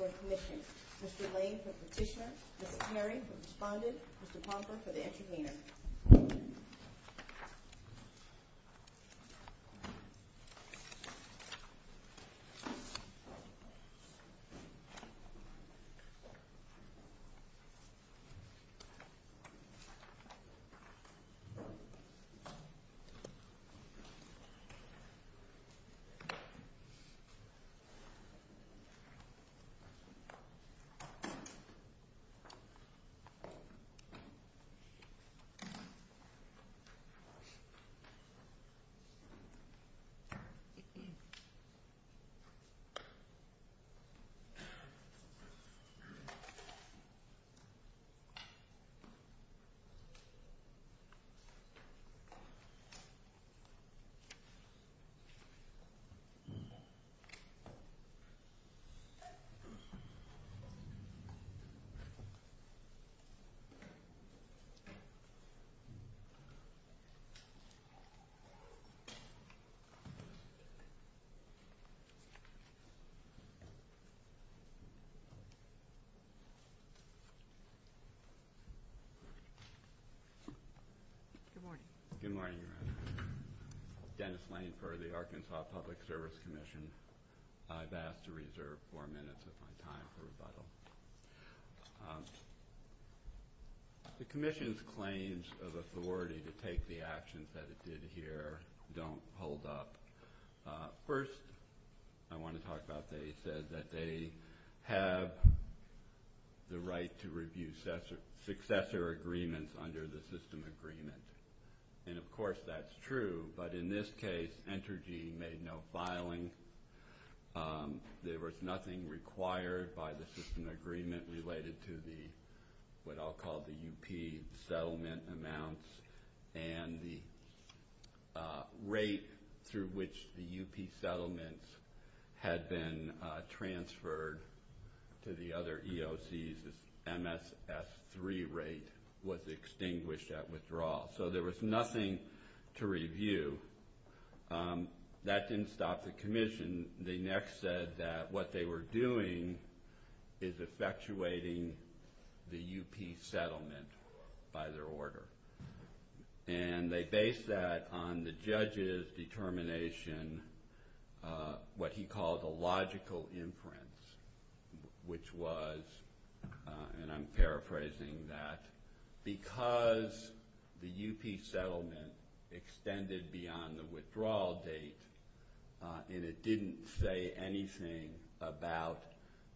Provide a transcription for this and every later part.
Petitioner, Mr. Lane for Petitioner, Ms. Terry for Respondent, Mr. Pomper for the Intervenor. Petitioner, Mr. Lane for Petitioner, Ms. Terry for Respondent, Mr. Pomper for the Intervenor. Petitioner, Mr. Lane for Petitioner, Ms. Terry for Respondent, Mr. Pomper for the Intervenor. Good morning. Good morning, Your Honor. Dennis Lane for the Arkansas Public Service Commission. I've asked to reserve four minutes of my time for rebuttal. The Commission's claims of authority to take the actions that it did here don't hold up. First, I want to talk about they said that they have the right to review successor agreements under the system agreement. And, of course, that's true. But in this case, Entergy made no filing. There was nothing required by the system agreement related to the what I'll call the UP settlement amounts and the rate through which the UP settlements had been transferred to the other EOCs, this MSS3 rate was extinguished at withdrawal. So there was nothing to review. That didn't stop the Commission. The Commission, they next said that what they were doing is effectuating the UP settlement by their order. And they based that on the judge's determination, what he called a logical inference, which was, and I'm paraphrasing that, because the UP settlement extended beyond the withdrawal date and it didn't say anything about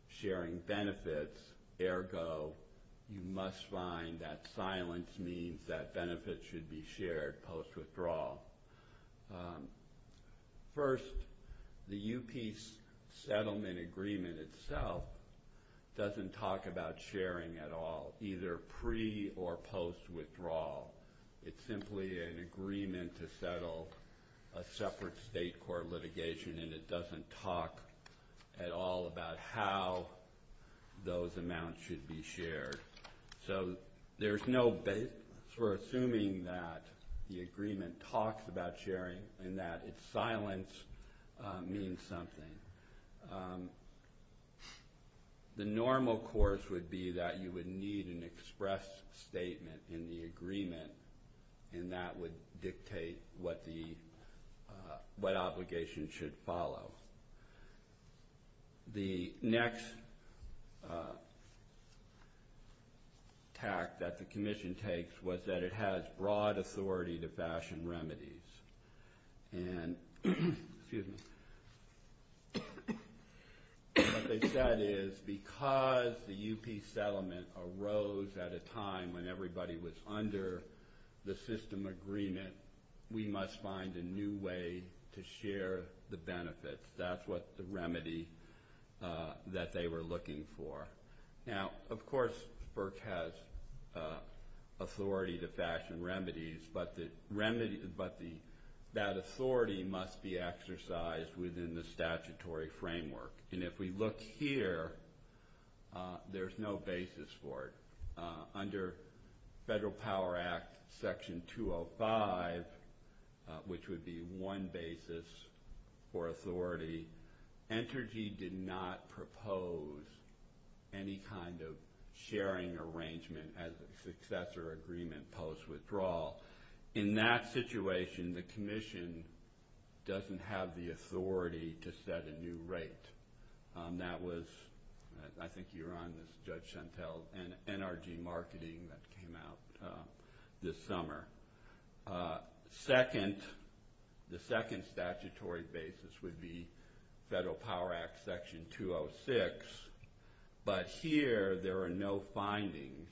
sharing benefits. Ergo, you must find that silence means that benefits should be shared post-withdrawal. First, the UP settlement agreement itself doesn't talk about sharing at all, either pre- or post-withdrawal. It's simply an agreement to settle a separate state court litigation, and it doesn't talk at all about how those amounts should be shared. So we're assuming that the agreement talks about sharing and that its silence means something. The normal course would be that you would need an express statement in the agreement, and that would dictate what obligation should follow. The next tact that the Commission takes was that it has broad authority to fashion remedies. And what they said is because the UP settlement arose at a time when everybody was under the system agreement, we must find a new way to share the benefits. That's what the remedy that they were looking for. Now, of course, FERC has authority to fashion remedies, but that authority must be exercised within the statutory framework. And if we look here, there's no basis for it. Under Federal Power Act Section 205, which would be one basis for authority, Entergy did not propose any kind of sharing arrangement as a successor agreement post-withdrawal. In that situation, the Commission doesn't have the authority to set a new rate. That was, I think you were on this, Judge Chantel, NRG marketing that came out this summer. Second, the second statutory basis would be Federal Power Act Section 206, but here there are no findings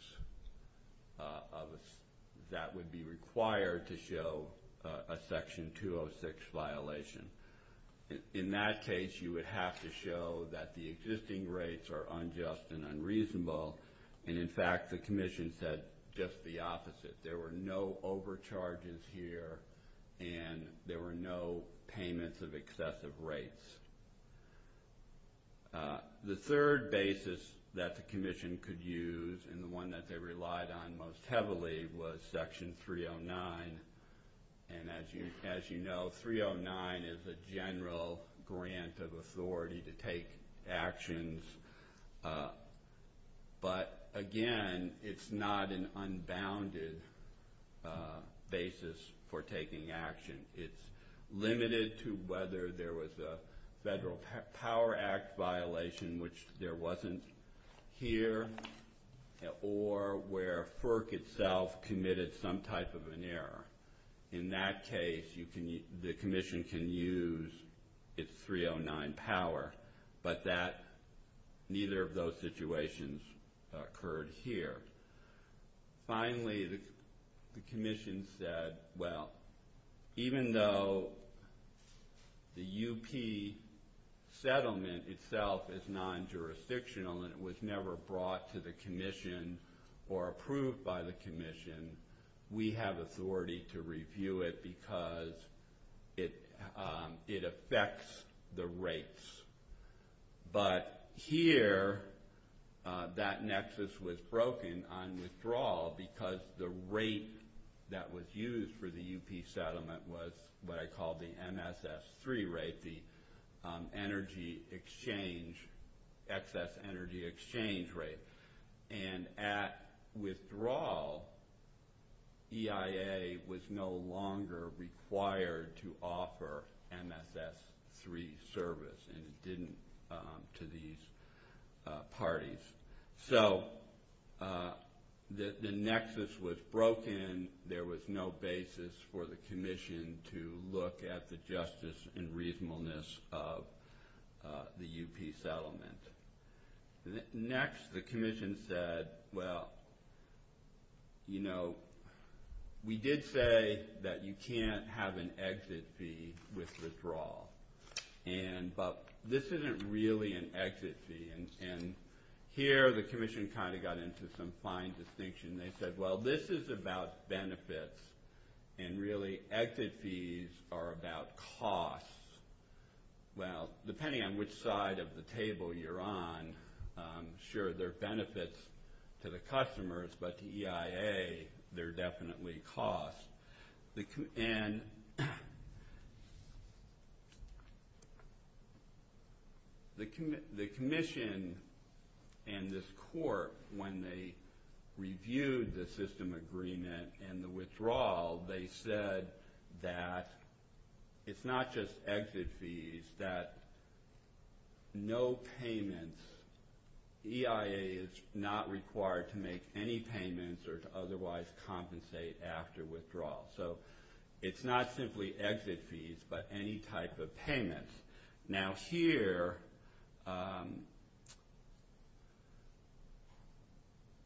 that would be required to show a Section 206 violation. In that case, you would have to show that the existing rates are unjust and unreasonable, and, in fact, the Commission said just the opposite. There were no overcharges here, and there were no payments of excessive rates. The third basis that the Commission could use, and the one that they relied on most heavily, was Section 309. And as you know, 309 is a general grant of authority to take actions. But, again, it's not an unbounded basis for taking action. It's limited to whether there was a Federal Power Act violation, which there wasn't here, or where FERC itself committed some type of an error. In that case, the Commission can use its 309 power, but neither of those situations occurred here. Finally, the Commission said, well, even though the UP settlement itself is non-jurisdictional and it was never brought to the Commission or approved by the Commission, we have authority to review it because it affects the rates. But here, that nexus was broken on withdrawal because the rate that was used for the UP settlement was what I call the MSS3 rate, the excess energy exchange rate. And at withdrawal, EIA was no longer required to offer MSS3 service, and it didn't to these parties. So the nexus was broken. There was no basis for the Commission to look at the justice and reasonableness of the UP settlement. Next, the Commission said, well, you know, we did say that you can't have an exit fee with withdrawal, but this isn't really an exit fee. And here, the Commission kind of got into some fine distinction. They said, well, this is about benefits, and really exit fees are about costs. Well, depending on which side of the table you're on, sure, there are benefits to the customers, but to EIA, there are definitely costs. And the Commission and this court, when they reviewed the system agreement and the withdrawal, they said that it's not just exit fees, that no payments, EIA is not required to make any payments or to otherwise compensate after withdrawal. So it's not simply exit fees, but any type of payment. Now, here,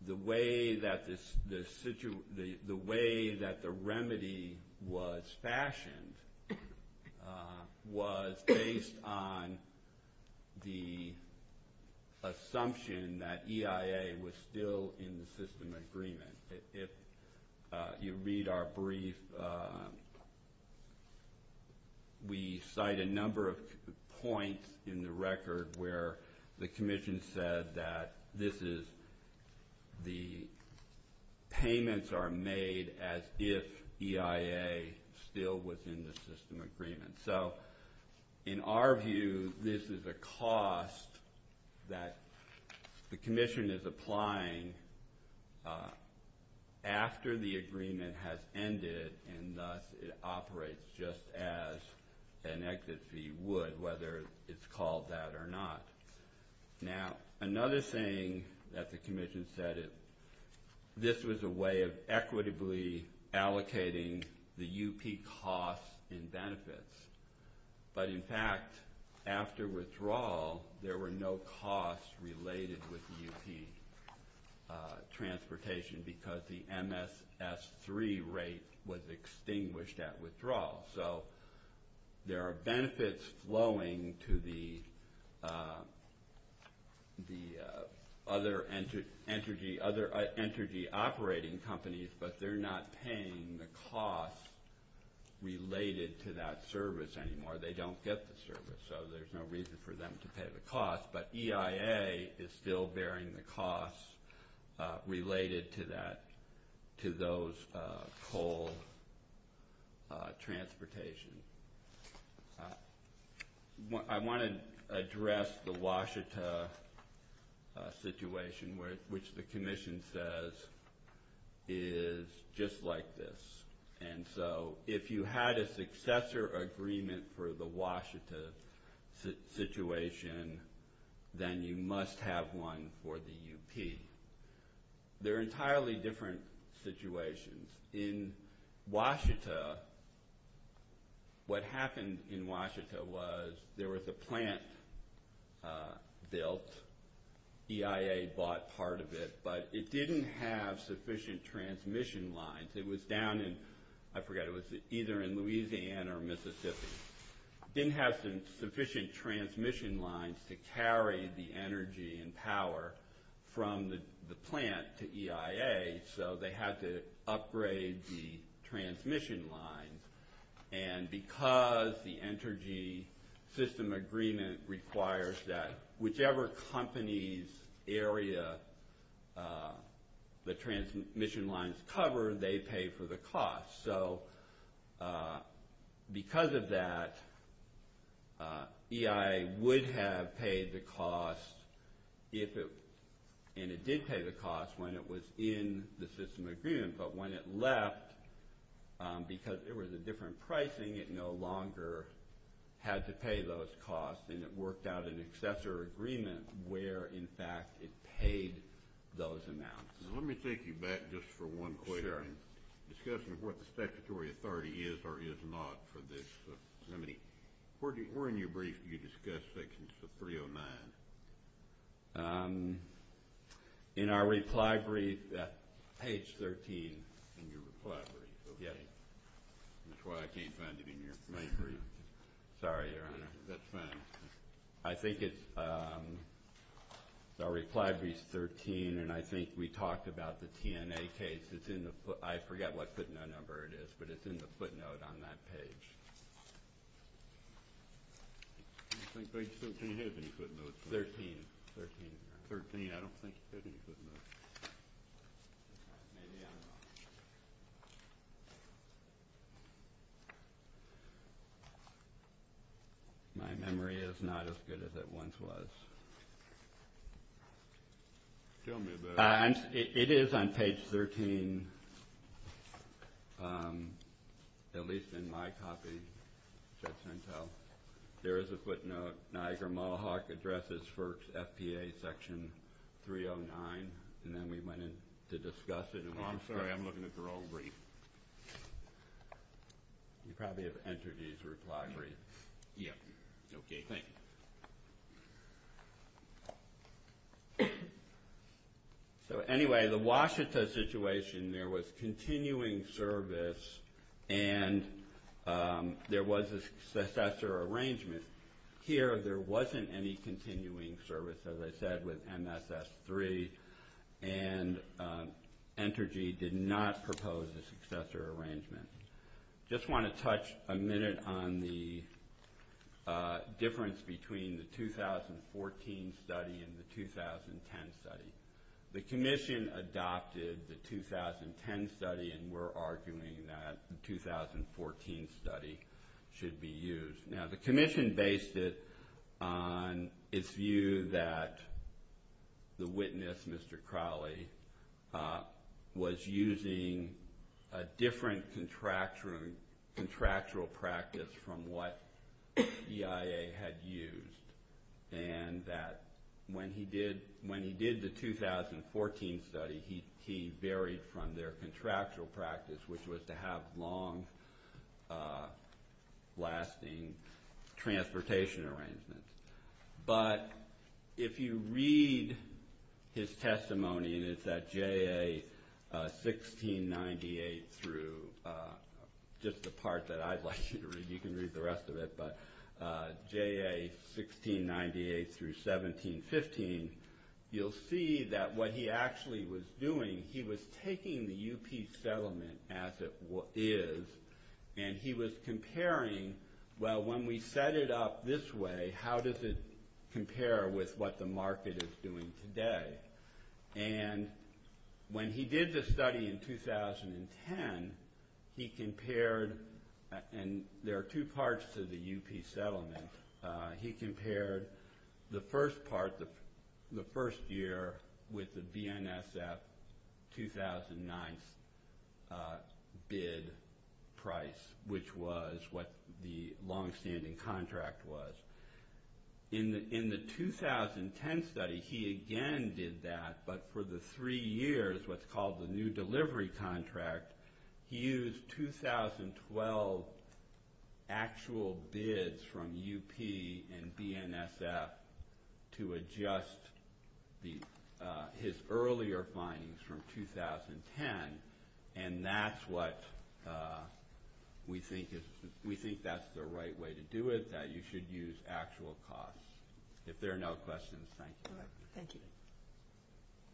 the way that the remedy was fashioned was based on the assumption that EIA was still in the system agreement. If you read our brief, we cite a number of points in the record where the Commission said that this is the payments are made as if EIA still was in the system agreement. So in our view, this is a cost that the Commission is applying after the agreement has ended, and thus it operates just as an exit fee would, whether it's called that or not. Now, another thing that the Commission said, this was a way of equitably allocating the UP costs and benefits. But in fact, after withdrawal, there were no costs related with UP transportation because the MSS3 rate was extinguished at withdrawal. So there are benefits flowing to the other energy operating companies, but they're not paying the costs related to that service anymore. They don't get the service, so there's no reason for them to pay the cost. But EIA is still bearing the costs related to those coal transportation. I want to address the Washita situation, which the Commission says is just like this. And so if you had a successor agreement for the Washita situation, then you must have one for the UP. They're entirely different situations. In Washita, what happened in Washita was there was a plant built. EIA bought part of it, but it didn't have sufficient transmission lines. I forget, it was either in Louisiana or Mississippi. It didn't have sufficient transmission lines to carry the energy and power from the plant to EIA, so they had to upgrade the transmission lines. And because the energy system agreement requires that whichever company's area the transmission lines cover, they pay for the cost. So because of that, EIA would have paid the cost, and it did pay the cost when it was in the system agreement. But when it left, because there was a different pricing, it no longer had to pay those costs, and it worked out an successor agreement where, in fact, it paid those amounts. Let me take you back just for one question. Sure. Discussing what the statutory authority is or is not for this. Where in your brief did you discuss Section 309? In our reply brief at page 13. In your reply brief, okay. That's why I can't find it in your main brief. Sorry, Your Honor. That's fine. I think it's our reply brief 13, and I think we talked about the TNA case. I forget what footnote number it is, but it's in the footnote on that page. I don't think page 13 has any footnotes. 13. 13. 13, I don't think it has any footnotes. Maybe I don't. My memory is not as good as it once was. Tell me about it. It is on page 13, at least in my copy, Judge Sentell. There is a footnote, Niagara-Mohawk addresses for FPA Section 309, and then we went in to discuss it. I'm sorry. I'm looking at the wrong brief. You probably have entered these reply briefs. Yes. Okay. Thank you. So, anyway, the Washita situation, there was continuing service, and there was a successor arrangement. Here, there wasn't any continuing service, as I said, with MSS 3, and Entergy did not propose a successor arrangement. I just want to touch a minute on the difference between the 2014 study and the 2010 study. The commission adopted the 2010 study, and we're arguing that the 2014 study should be used. Now, the commission based it on its view that the witness, Mr. Crowley, was using a different contractual practice from what EIA had used, and that when he did the 2014 study, he varied from their contractual practice, which was to have long-lasting transportation arrangements. But if you read his testimony, and it's at JA 1698 through just the part that I'd like you to read, you can read the rest of it, but JA 1698 through 1715, you'll see that what he actually was doing, he was taking the UP settlement as it is, and he was comparing, well, when we set it up this way, how does it compare with what the market is doing today? And when he did the study in 2010, he compared, and there are two parts to the UP settlement, he compared the first part, the first year, with the BNSF 2009 bid price, which was what the long-standing contract was. In the 2010 study, he again did that, but for the three years, what's called the new delivery contract, he used 2012 actual bids from UP and BNSF to adjust his earlier findings from 2010, and that's what we think that's the right way to do it, that you should use actual costs. If there are no questions, thank you. All right, thank you.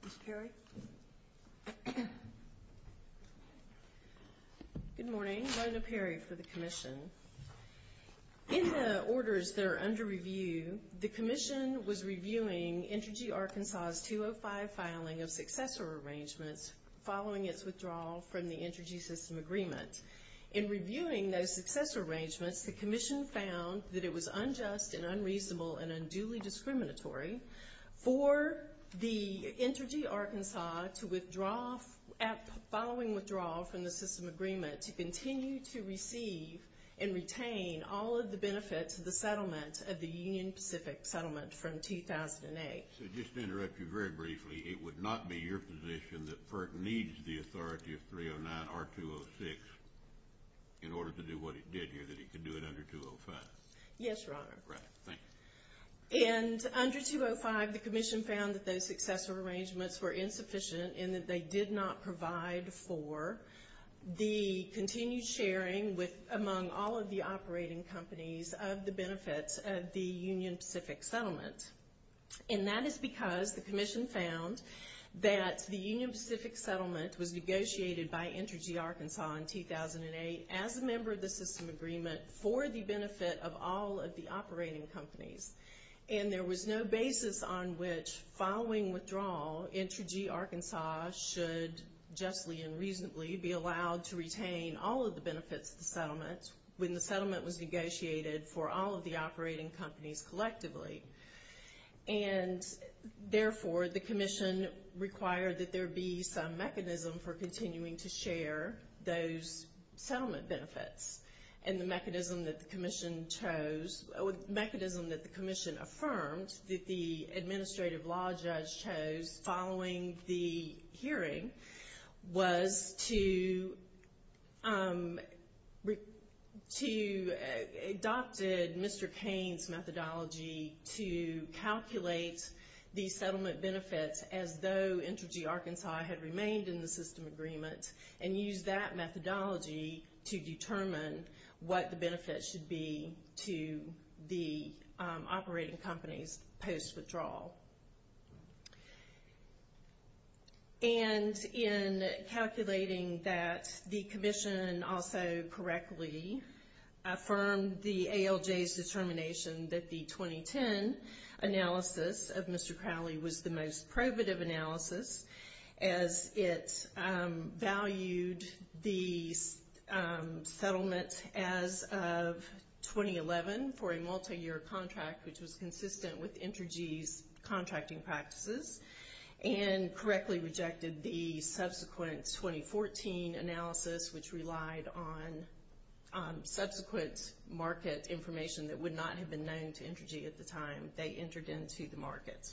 Ms. Perry? Good morning. Rhona Perry for the Commission. In the orders that are under review, the Commission was reviewing Intergy Arkansas's 205 filing of successor arrangements following its withdrawal from the Intergy System Agreement. In reviewing those successor arrangements, the Commission found that it was unjust and unreasonable and unduly discriminatory for the Intergy Arkansas to withdraw, following withdrawal from the system agreement, to continue to receive and retain all of the benefits of the settlement of the Union Pacific settlement from 2008. So just to interrupt you very briefly, it would not be your position that FERC needs the authority of 309 or 206 in order to do what it did here, that it could do it under 205? Yes, Your Honor. All right, thank you. And under 205, the Commission found that those successor arrangements were insufficient and that they did not provide for the continued sharing among all of the operating companies of the benefits of the Union Pacific settlement. And that is because the Commission found that the Union Pacific settlement was negotiated by Intergy Arkansas in 2008 as a member of the system agreement for the benefit of all of the operating companies. And there was no basis on which, following withdrawal, Intergy Arkansas should justly and reasonably be allowed to retain all of the benefits of the settlement when the settlement was negotiated for all of the operating companies collectively. And, therefore, the Commission required that there be some mechanism for continuing to share those settlement benefits. And the mechanism that the Commission chose, or the mechanism that the Commission affirmed that the administrative law judge chose following the hearing, was to adopt Mr. Cain's methodology to calculate the settlement benefits as though Intergy Arkansas had remained in the system agreement and use that methodology to determine what the benefits should be to the operating companies post-withdrawal. And in calculating that, the Commission also correctly affirmed the ALJ's determination that the 2010 analysis of Mr. Crowley was the most probative analysis as it valued the settlement as of 2011 for a multi-year contract which was consistent with Intergy's contracting practices and correctly rejected the subsequent 2014 analysis which relied on subsequent market information that would not have been known to Intergy at the time they entered into the market.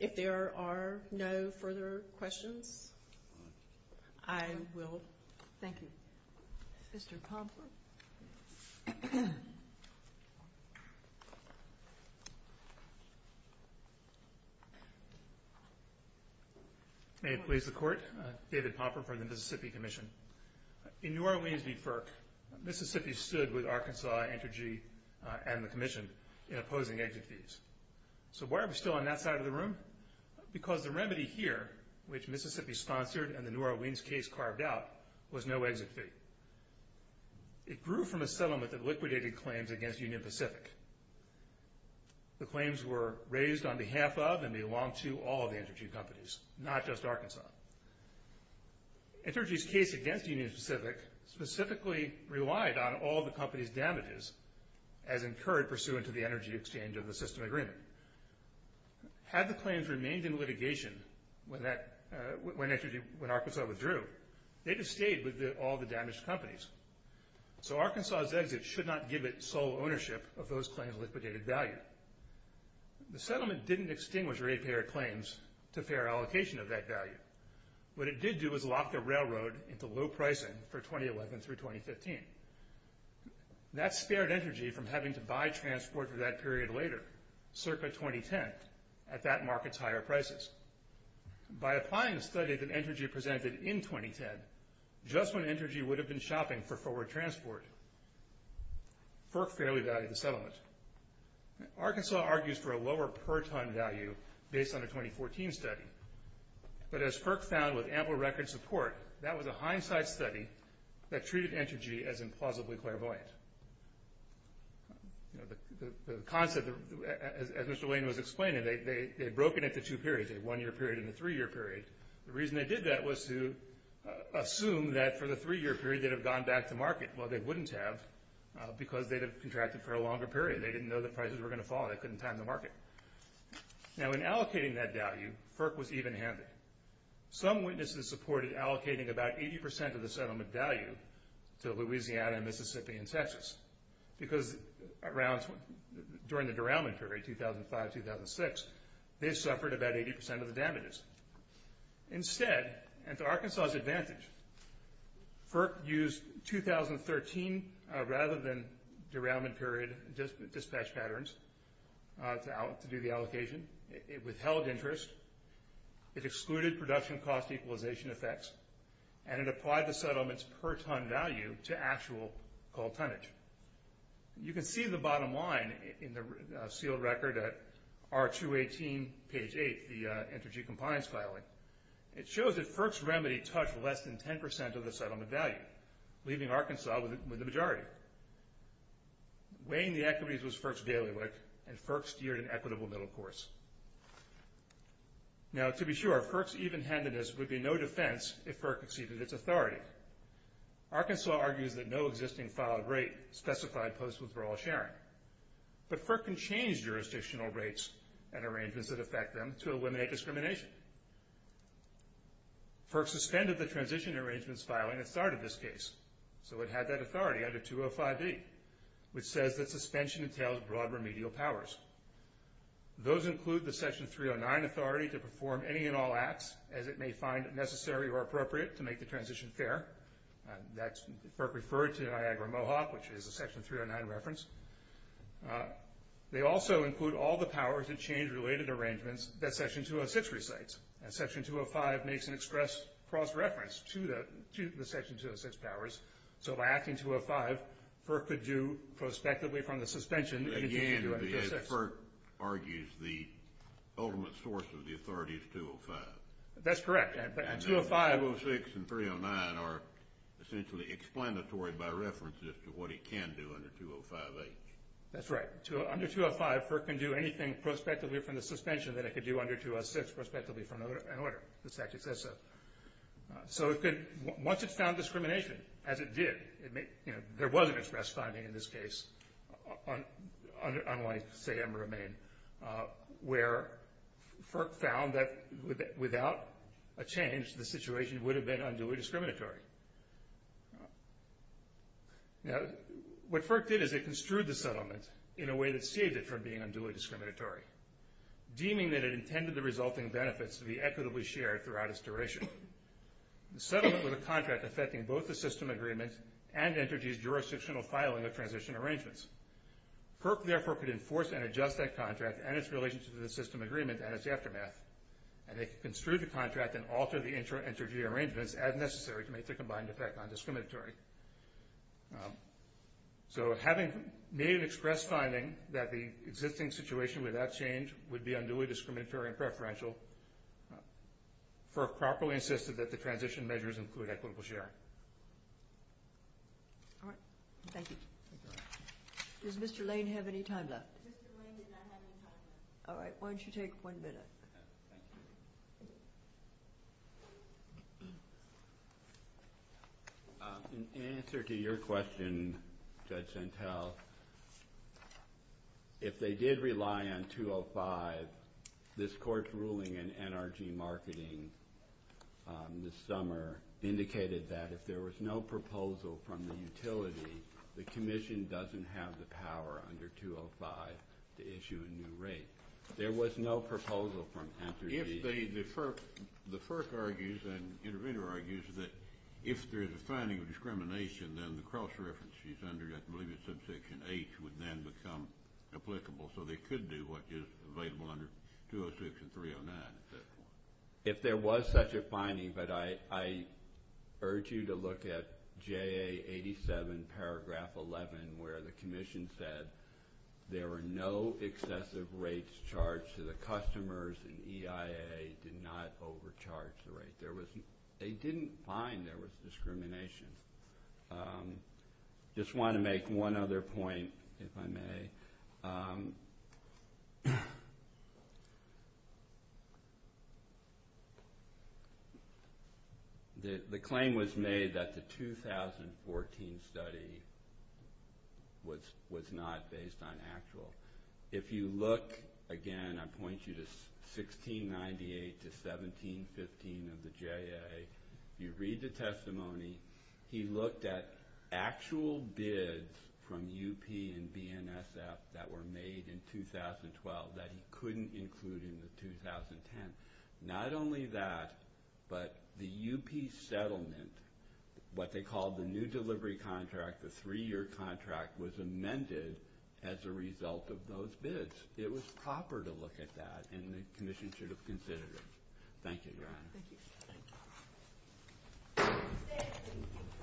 If there are no further questions, I will... Thank you. Mr. Pomfrey. May it please the Court? David Pomfrey from the Mississippi Commission. In New Orleans' deferred, Mississippi stood with Arkansas, Intergy, and the Commission in opposing exit fees. Because the remedy here, which Mississippi sponsored and the New Orleans case carved out, was no exit fee. It grew from a settlement that liquidated claims against Union Pacific. The claims were raised on behalf of and belonged to all of the Intergy companies, not just Arkansas. Intergy's case against Union Pacific specifically relied on all the company's damages as incurred pursuant to the energy exchange of the system agreement. Had the claims remained in litigation when Arkansas withdrew, they'd have stayed with all the damaged companies. So Arkansas' exit should not give it sole ownership of those claims' liquidated value. The settlement didn't extinguish rate-payered claims to fair allocation of that value. What it did do was lock the railroad into low pricing for 2011 through 2015. That spared Intergy from having to buy transport for that period later, circa 2010, at that market's higher prices. By applying the study that Intergy presented in 2010, just when Intergy would have been shopping for forward transport, FERC fairly valued the settlement. Arkansas argues for a lower per-ton value based on a 2014 study. But as FERC found with ample record support, that was a hindsight study that treated Intergy as implausibly clairvoyant. You know, the concept, as Mr. Lane was explaining, they'd broken it to two periods, a one-year period and a three-year period. The reason they did that was to assume that for the three-year period they'd have gone back to market. Well, they wouldn't have because they'd have contracted for a longer period. They didn't know the prices were going to fall. They couldn't time the market. Now, in allocating that value, FERC was even-handed. Some witnesses supported allocating about 80% of the settlement value to Louisiana and Mississippi and Texas because during the derailment period, 2005-2006, they suffered about 80% of the damages. FERC used 2013 rather than derailment period dispatch patterns to do the allocation. It withheld interest. It excluded production cost equalization effects. And it applied the settlement's per-ton value to actual coal tonnage. You can see the bottom line in the sealed record at R218, page 8, the Intergy compliance filing. It shows that FERC's remedy touched less than 10% of the settlement value, leaving Arkansas with the majority. Weighing the equities was FERC's daily work, and FERC steered an equitable middle course. Now, to be sure, FERC's even-handedness would be no defense if FERC exceeded its authority. Arkansas argues that no existing filed rate specified post-withdrawal sharing. But FERC can change jurisdictional rates and arrangements that affect them to eliminate discrimination. FERC suspended the transition arrangements filing that started this case, so it had that authority under 205D, which says that suspension entails broad remedial powers. Those include the Section 309 authority to perform any and all acts as it may find necessary or appropriate to make the transition fair. FERC referred to Niagara-Mohawk, which is a Section 309 reference. They also include all the powers to change related arrangements that Section 206 recites. And Section 205 makes an express cross-reference to the Section 206 powers, so by acting 205, FERC could do prospectively from the suspension anything it can do under 206. But again, as FERC argues, the ultimate source of the authority is 205. That's correct. And 206 and 309 are essentially explanatory by reference as to what it can do under 205H. That's right. Under 205, FERC can do anything prospectively from the suspension that it can do under 206 prospectively from an order. The statute says so. So once it's found discrimination, as it did, there was an express finding in this case, unlike, say, where FERC found that without a change, the situation would have been unduly discriminatory. Now, what FERC did is it construed the settlement in a way that saved it from being unduly discriminatory, deeming that it intended the resulting benefits to be equitably shared throughout its duration. The settlement was a contract affecting both the system agreements and entities' jurisdictional filing of transition arrangements. FERC, therefore, could enforce and adjust that contract and its relationship to the system agreement and its aftermath, and it could construe the contract and alter the interview arrangements as necessary to make the combined effect non-discriminatory. So having made an express finding that the existing situation without change would be unduly discriminatory and preferential, FERC properly insisted that the transition measures include equitable sharing. All right. Thank you. Does Mr. Lane have any time left? Mr. Lane did not have any time left. All right. Why don't you take one minute? Okay. Thank you. In answer to your question, Judge Santel, if they did rely on 205, this Court's ruling in NRG marketing this summer indicated that if there was no proposal from the utility, the Commission doesn't have the power under 205 to issue a new rate. There was no proposal from NRG. The FERC argues and the intervener argues that if there is a finding of discrimination, then the cross-references under, I believe it's subsection H, would then become applicable, so they could do what is available under 206 and 309 at that point. If there was such a finding, but I urge you to look at J.A. 87, paragraph 11, where the Commission said there were no excessive rates charged to the customers and EIA did not overcharge the rate. They didn't find there was discrimination. I just want to make one other point, if I may. The claim was made that the 2014 study was not based on actual. If you look again, I point you to 1698 to 1715 of the J.A., you read the testimony. He looked at actual bids from UP and BNSF that were made in 2012 that he couldn't include in the 2010. Not only that, but the UP settlement, what they called the new delivery contract, the three-year contract, was amended as a result of those bids. It was proper to look at that, and the Commission should have considered it. Thank you.